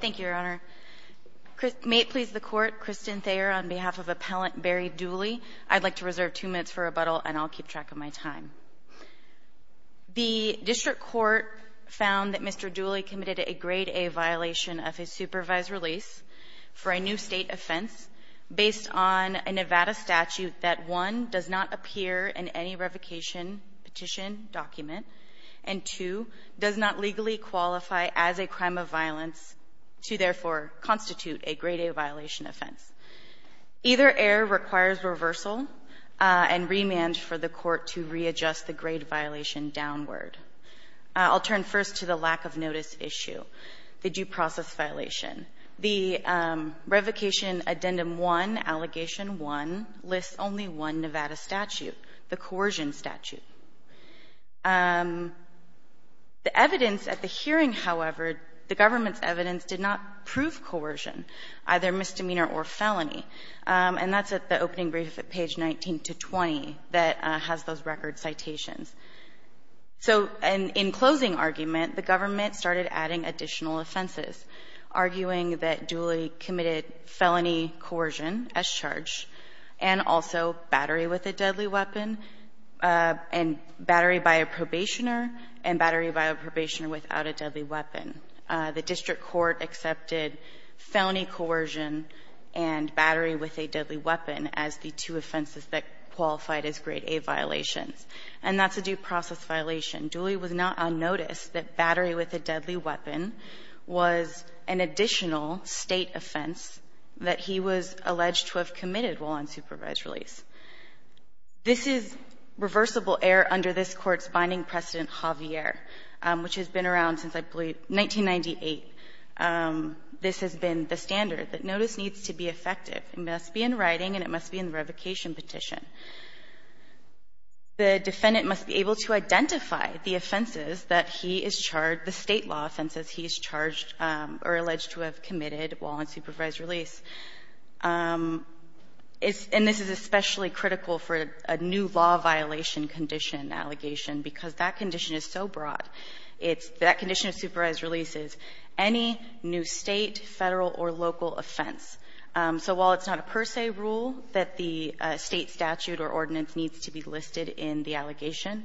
Thank you, Your Honor. May it please the Court, Kristen Thayer on behalf of Appellant Barry Dooley, I'd like to reserve two minutes for rebuttal and I'll keep track of my time. The District Court found that Mr. Dooley committed a Grade A violation of his supervised release for a new state offense based on a Nevada statute that, one, does not appear in any revocation petition document, and, two, does not legally qualify as a crime of violence to, therefore, constitute a Grade A violation offense. Either error requires reversal and remand for the Court to readjust the Grade violation downward. I'll turn first to the lack-of-notice issue, the due process violation. The revocation Addendum 1, Allegation 1, lists only one Nevada statute, the coercion statute. The evidence at the hearing, however, the government's evidence did not prove coercion, either misdemeanor or felony, and that's at the opening brief at page 19 to 20 that has those record citations. So in closing argument, the government started adding additional offenses, arguing that Dooley committed felony coercion as charged and also battery with a deadly weapon and battery by a probationer and battery by a probationer without a deadly weapon. The District Court accepted felony coercion and battery with a deadly weapon as the two offenses that qualified as Grade A violations. And that's a due process violation. Dooley was not on notice that battery with a deadly weapon was an additional State offense that he was alleged to have committed while on supervised release. This is reversible error under this Court's binding precedent, Javier, which has been around since, I believe, 1998. This has been the standard that notice needs to be effective. It must be in writing and it must be in the revocation petition. The defendant must be able to identify the offenses that he is charged, the State law offenses he is charged or alleged to have committed while on supervised release. And this is especially critical for a new law violation condition allegation because that condition is so broad. It's that condition of supervised release is any new State, Federal, or local offense. So while it's not a per se rule that the State statute or ordinance needs to be listed in the allegation,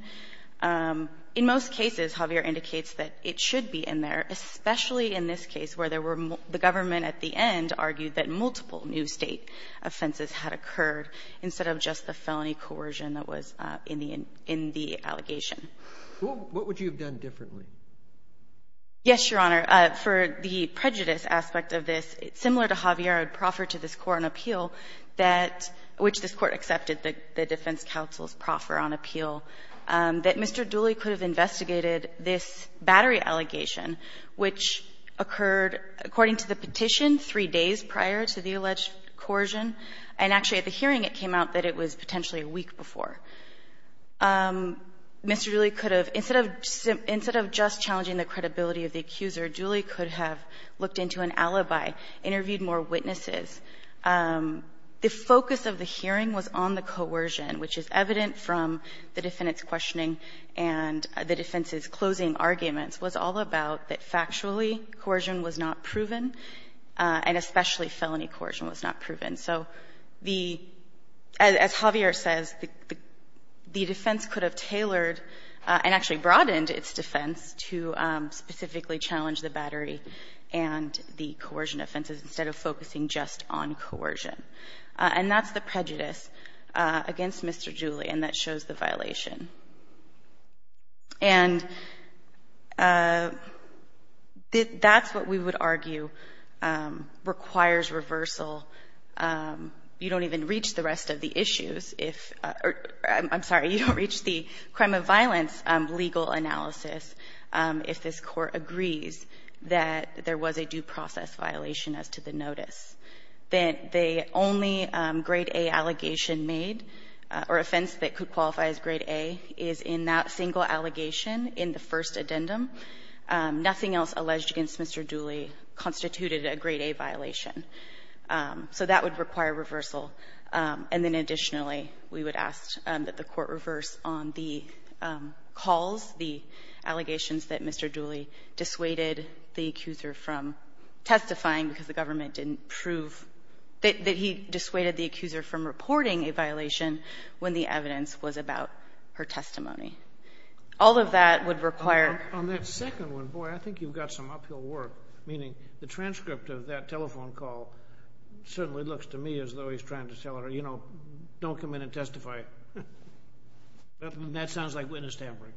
in most cases, Javier indicates that it should be in there, especially in this case where there were the government at the end argued that multiple new State offenses had occurred instead of just the felony coercion that was in the allegation. What would you have done differently? Yes, Your Honor. For the prejudice aspect of this, similar to Javier, I would proffer to this Court an appeal that which this Court accepted that the defense counsels proffer on appeal, that Mr. Dooley could have investigated this battery allegation which occurred according to the petition three days prior to the alleged coercion, and actually at the hearing it came out that it was potentially a week before. Mr. Dooley could have, instead of just challenging the credibility of the accuser Dooley could have looked into an alibi, interviewed more witnesses. The focus of the hearing was on the coercion, which is evident from the defendant's questioning and the defense's closing arguments, was all about that factually coercion was not proven, and especially felony coercion was not proven. So the as Javier says, the defense could have tailored and actually broadened its defense to specifically challenge the battery and the coercion offenses instead of focusing just on coercion. And that's the prejudice against Mr. Dooley, and that shows the violation. And that's what we would argue requires reversal. You don't even reach the rest of the issues if or I'm sorry, you don't reach the rest of the issues in the analysis if this Court agrees that there was a due process violation as to the notice, that the only grade A allegation made or offense that could qualify as grade A is in that single allegation in the first addendum. Nothing else alleged against Mr. Dooley constituted a grade A violation. So that would require reversal. And then additionally, we would ask that the Court reverse on the calls, the allegations that Mr. Dooley dissuaded the accuser from testifying because the government didn't prove that he dissuaded the accuser from reporting a violation when the evidence was about her testimony. All of that would require ---- Sotomayor, on that second one, boy, I think you've got some uphill work, meaning the transcript of that telephone call certainly looks to me as though he's trying to tell her, you know, don't come in and testify. That sounds like witness tampering.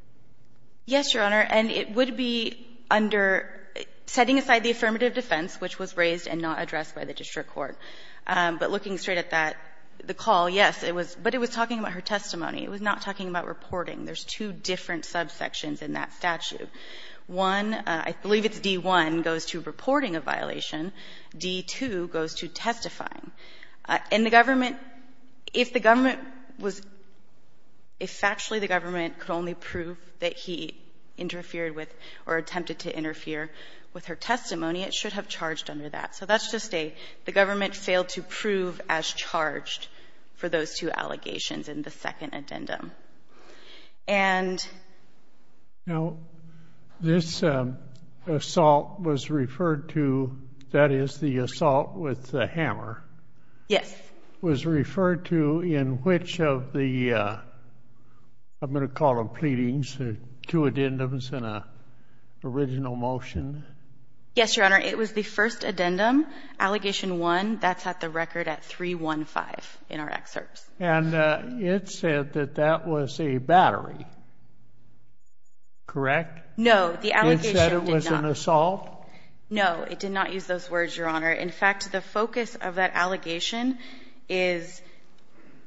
Yes, Your Honor. And it would be under setting aside the affirmative defense, which was raised and not addressed by the district court. But looking straight at that, the call, yes, it was ---- but it was talking about her testimony. It was not talking about reporting. There's two different subsections in that statute. One, I believe it's D-1, goes to reporting a violation. D-2 goes to testifying. And the government, if the government was ---- if actually the government could only prove that he interfered with or attempted to interfere with her testimony, it should have charged under that. So that's just a ---- the government failed to prove as charged for those two allegations in the second addendum. And ---- Now, this assault was referred to, that is, the assault with the hammer. Yes. Was referred to in which of the, I'm going to call them pleadings, two addendums and an original motion? Yes, Your Honor. It was the first addendum, allegation one. That's at the record at 315 in our excerpts. And it said that that was a battery, correct? No, the allegation did not. It said it was an assault? No, it did not use those words, Your Honor. In fact, the focus of that allegation is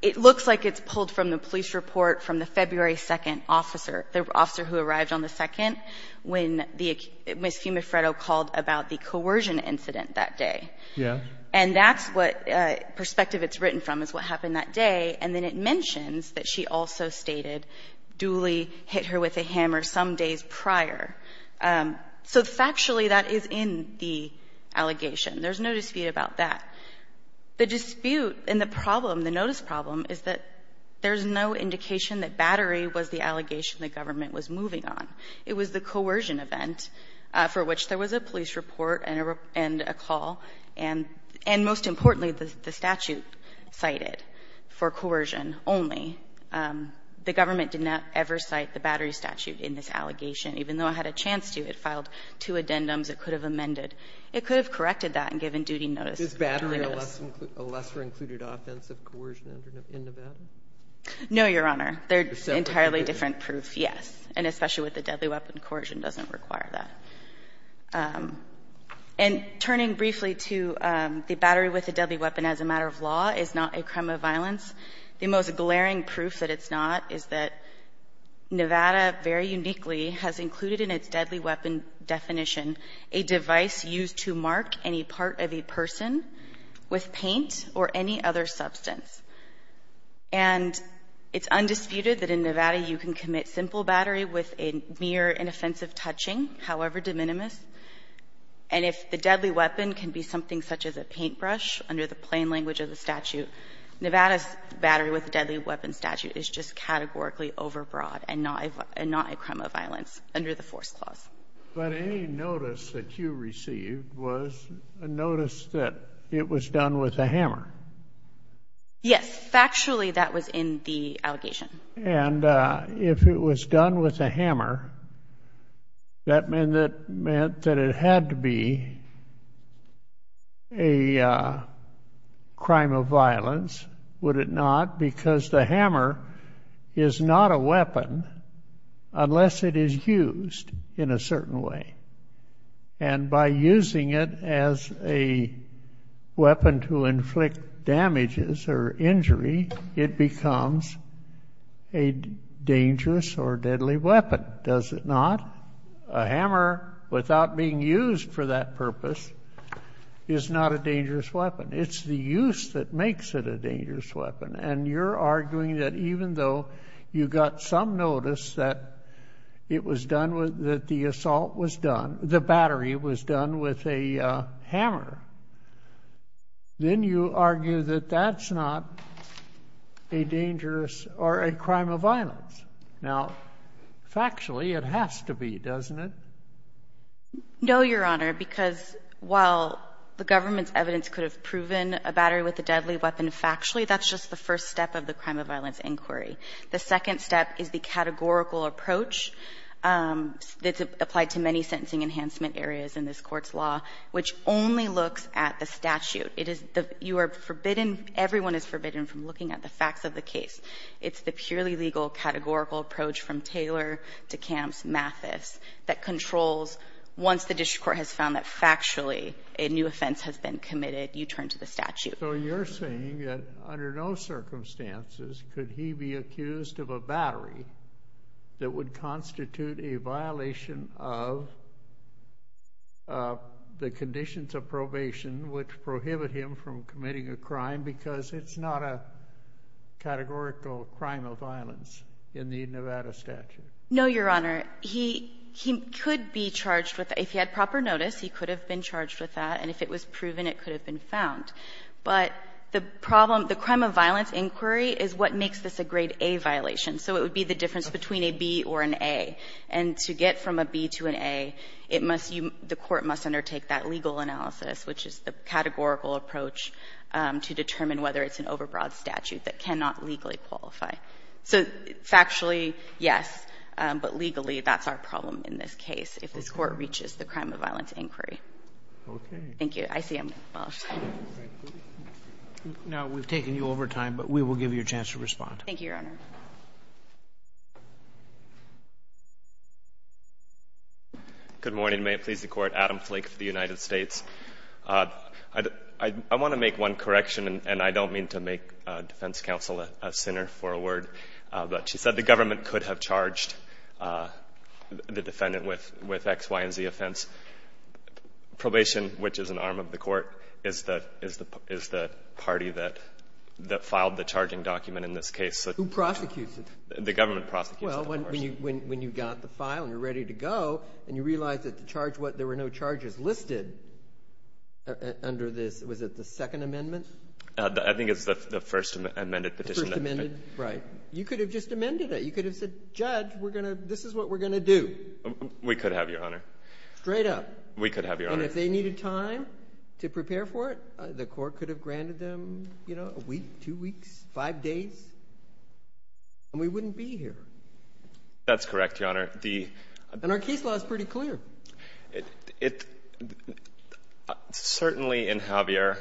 it looks like it's pulled from the police report from the February 2nd officer, the officer who arrived on the 2nd when the Ms. Fiume-Freddo called about the coercion incident that day. Yeah. And that's what perspective it's written from, is what happened that day. And then it mentions that she also stated Dooley hit her with a hammer some days prior. So factually, that is in the allegation. There's no dispute about that. The dispute and the problem, the notice problem, is that there's no indication that battery was the allegation the government was moving on. It was the coercion event for which there was a police report and a call, and the and most importantly, the statute cited for coercion only. The government did not ever cite the battery statute in this allegation. Even though it had a chance to, it filed two addendums it could have amended. It could have corrected that and given duty notice. Is battery a lesser included offense of coercion in Nevada? No, Your Honor. They're entirely different proof, yes. And especially with the deadly weapon, coercion doesn't require that. And turning briefly to the battery with a deadly weapon as a matter of law is not a crime of violence. The most glaring proof that it's not is that Nevada very uniquely has included in its deadly weapon definition a device used to mark any part of a person with paint or any other substance. And it's undisputed that in Nevada you can commit simple battery with a mere inoffensive touching, however de minimis, and if the deadly weapon can be something such as a paintbrush, under the plain language of the statute, Nevada's battery with a deadly weapon statute is just categorically overbroad and not a crime of violence under the force clause. But any notice that you received was a notice that it was done with a hammer. Yes. Factually, that was in the allegation. And if it was done with a hammer, that meant that it had to be a crime of violence, would it not? Because the hammer is not a weapon unless it is used in a certain way. And by using it as a weapon to inflict damages or injury, it becomes a dangerous or deadly weapon, does it not? A hammer, without being used for that purpose, is not a dangerous weapon. It's the use that makes it a dangerous weapon. And you're arguing that even though you got some notice that it was done with, that the assault was done, the battery was done with a hammer, then you argue that that's not a dangerous or a crime of violence. Now, factually, it has to be, doesn't it? No, Your Honor, because while the government's evidence could have proven a battery with a deadly weapon factually, that's just the first step of the crime of violence inquiry. The second step is the categorical approach that's applied to many sentencing enhancement areas in this Court's law, which only looks at the statute. It is the you are forbidden, everyone is forbidden from looking at the facts of the case. It's the purely legal categorical approach from Taylor to Camps, Mathis, that controls once the district court has found that factually a new offense has been committed, you turn to the statute. So you're saying that under no circumstances could he be accused of a battery that would constitute a violation of the conditions of probation which prohibit him from committing a crime because it's not a categorical crime of violence in the Nevada statute? No, Your Honor, he could be charged with, if he had proper notice, he could have been charged with that. And if it was proven, it could have been found. But the problem, the crime of violence inquiry is what makes this a grade A violation. So it would be the difference between a B or an A. And to get from a B to an A, it must be the court must undertake that legal analysis, which is the categorical approach to determine whether it's an overbroad statute that cannot legally qualify. So factually, yes, but legally, that's our problem in this case, if this Court reaches the crime of violence inquiry. Thank you. I see I'm lost. No, we've taken you over time, but we will give you a chance to respond. Thank you, Your Honor. Good morning. May it please the Court. Adam Flake for the United States. I want to make one correction, and I don't mean to make defense counsel a sinner for a word, but she said the government could have charged the defendant with X, Y, and Z offense. Probation, which is an arm of the Court, is the party that filed the charging document in this case. Who prosecutes it? The government prosecutes it, of course. Well, when you got the file and you're ready to go, and you realize that the charge was that there were no charges listed under this, was it the Second Amendment? I think it's the First Amended Petition. The First Amended, right. You could have just amended it. You could have said, Judge, we're going to do this is what we're going to do. We could have, Your Honor. Straight up. We could have, Your Honor. And if they needed time to prepare for it, the Court could have granted them, you know, a week, two weeks, five days, and we wouldn't be here. That's correct, Your Honor. And our case law is pretty clear. It — certainly in Javier,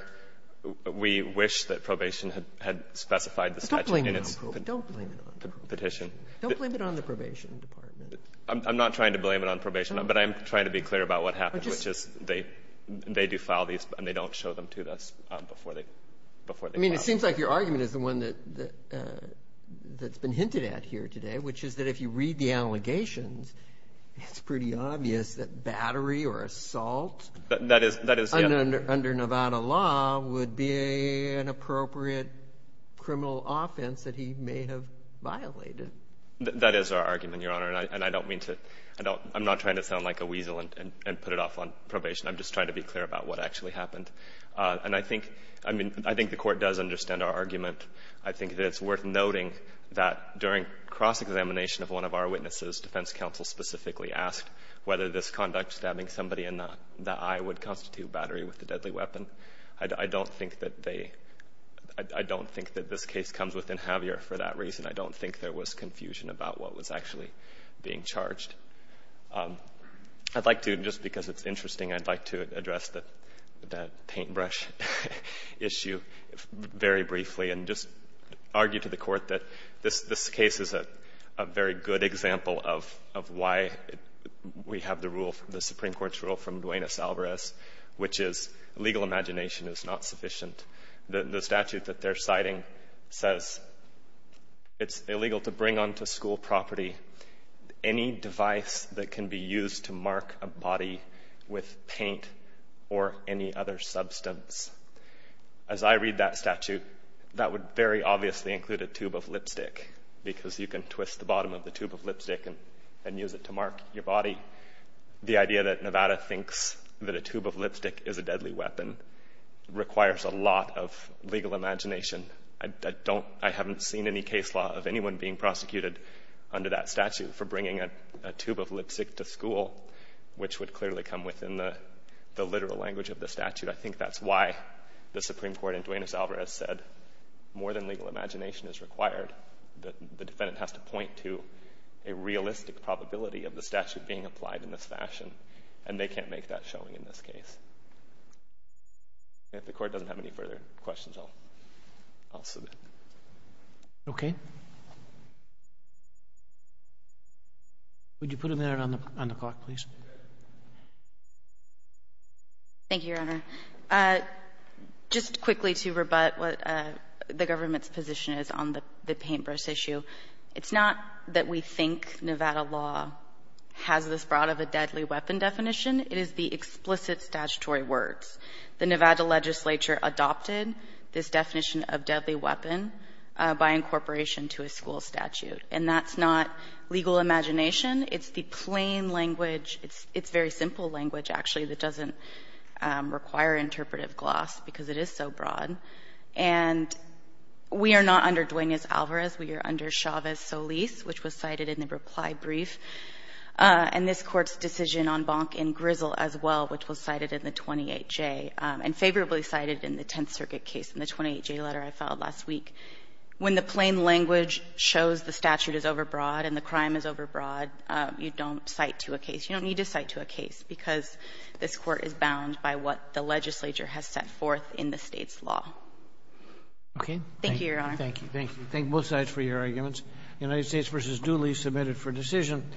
we wish that probation had specified the statute in its Don't blame it on probation. Don't blame it on probation. Petition. Don't blame it on the probation department. I'm not trying to blame it on probation, but I am trying to be clear about what happened, which is they do file these, and they don't show them to us before they file them. I mean, it seems like your argument is the one that's been hinted at here today, which is that if you read the allegations, it's pretty obvious that battery or assault under Nevada law would be an appropriate criminal offense that he may have violated. That is our argument, Your Honor. And I don't mean to — I'm not trying to sound like a weasel and put it off on probation. I'm just trying to be clear about what actually happened. And I think — I mean, I think the Court does understand our argument. I think that it's worth noting that during cross-examination of one of our witnesses, defense counsel specifically asked whether this conduct, stabbing somebody in the eye, would constitute battery with a deadly weapon. I don't think that they — I don't think that this case comes within Javier for that reason. I don't think there was confusion about what was actually being charged. I'd like to — just because it's interesting, I'd like to address that paintbrush issue very briefly and just argue to the Court that this case is a very good example of why we have the rule, the Supreme Court's rule from Duenas-Alvarez, which is legal imagination is not sufficient. The statute that they're citing says it's illegal to bring onto school property any device that can be used to mark a body with paint or any other substance. As I read that statute, that would very obviously include a tube of lipstick because you can twist the bottom of the tube of lipstick and use it to mark your body. The idea that Nevada thinks that a tube of lipstick is a deadly weapon requires a lot of legal imagination. I don't — I haven't seen any case law of anyone being prosecuted under that statute for bringing a tube of lipstick to school, which would clearly come within the literal language of the statute. I think that's why the Supreme Court in Duenas-Alvarez said more than legal imagination is required. The defendant has to point to a realistic probability of the statute being applied in this fashion, and they can't make that showing in this case. If the Court doesn't have any further questions, I'll submit. Okay. Would you put them there on the clock, please? Thank you, Your Honor. Just quickly to rebut what the government's position is on the paintbrush issue, it's not that we think Nevada law has this broad of a deadly weapon definition. It is the explicit statutory words. The Nevada legislature adopted this definition of deadly weapon by incorporation to a school statute. And that's not legal imagination. It's the plain language. It's very simple language, actually, that doesn't require interpretive gloss because it is so broad. And we are not under Duenas-Alvarez. We are under Chavez-Solis, which was cited in the reply brief. And this Court's decision on Bonk and Grizzle as well, which was cited in the 28J and favorably cited in the Tenth Circuit case in the 28J letter I filed last week. When the plain language shows the statute is overbroad and the crime is overbroad, you don't cite to a case. You don't need to cite to a case because this Court is bound by what the legislature has set forth in the state's law. Okay. Thank you, Your Honor. Thank you. Thank you. Thank both sides for your arguments. United States v. Dooley, submitted for decision.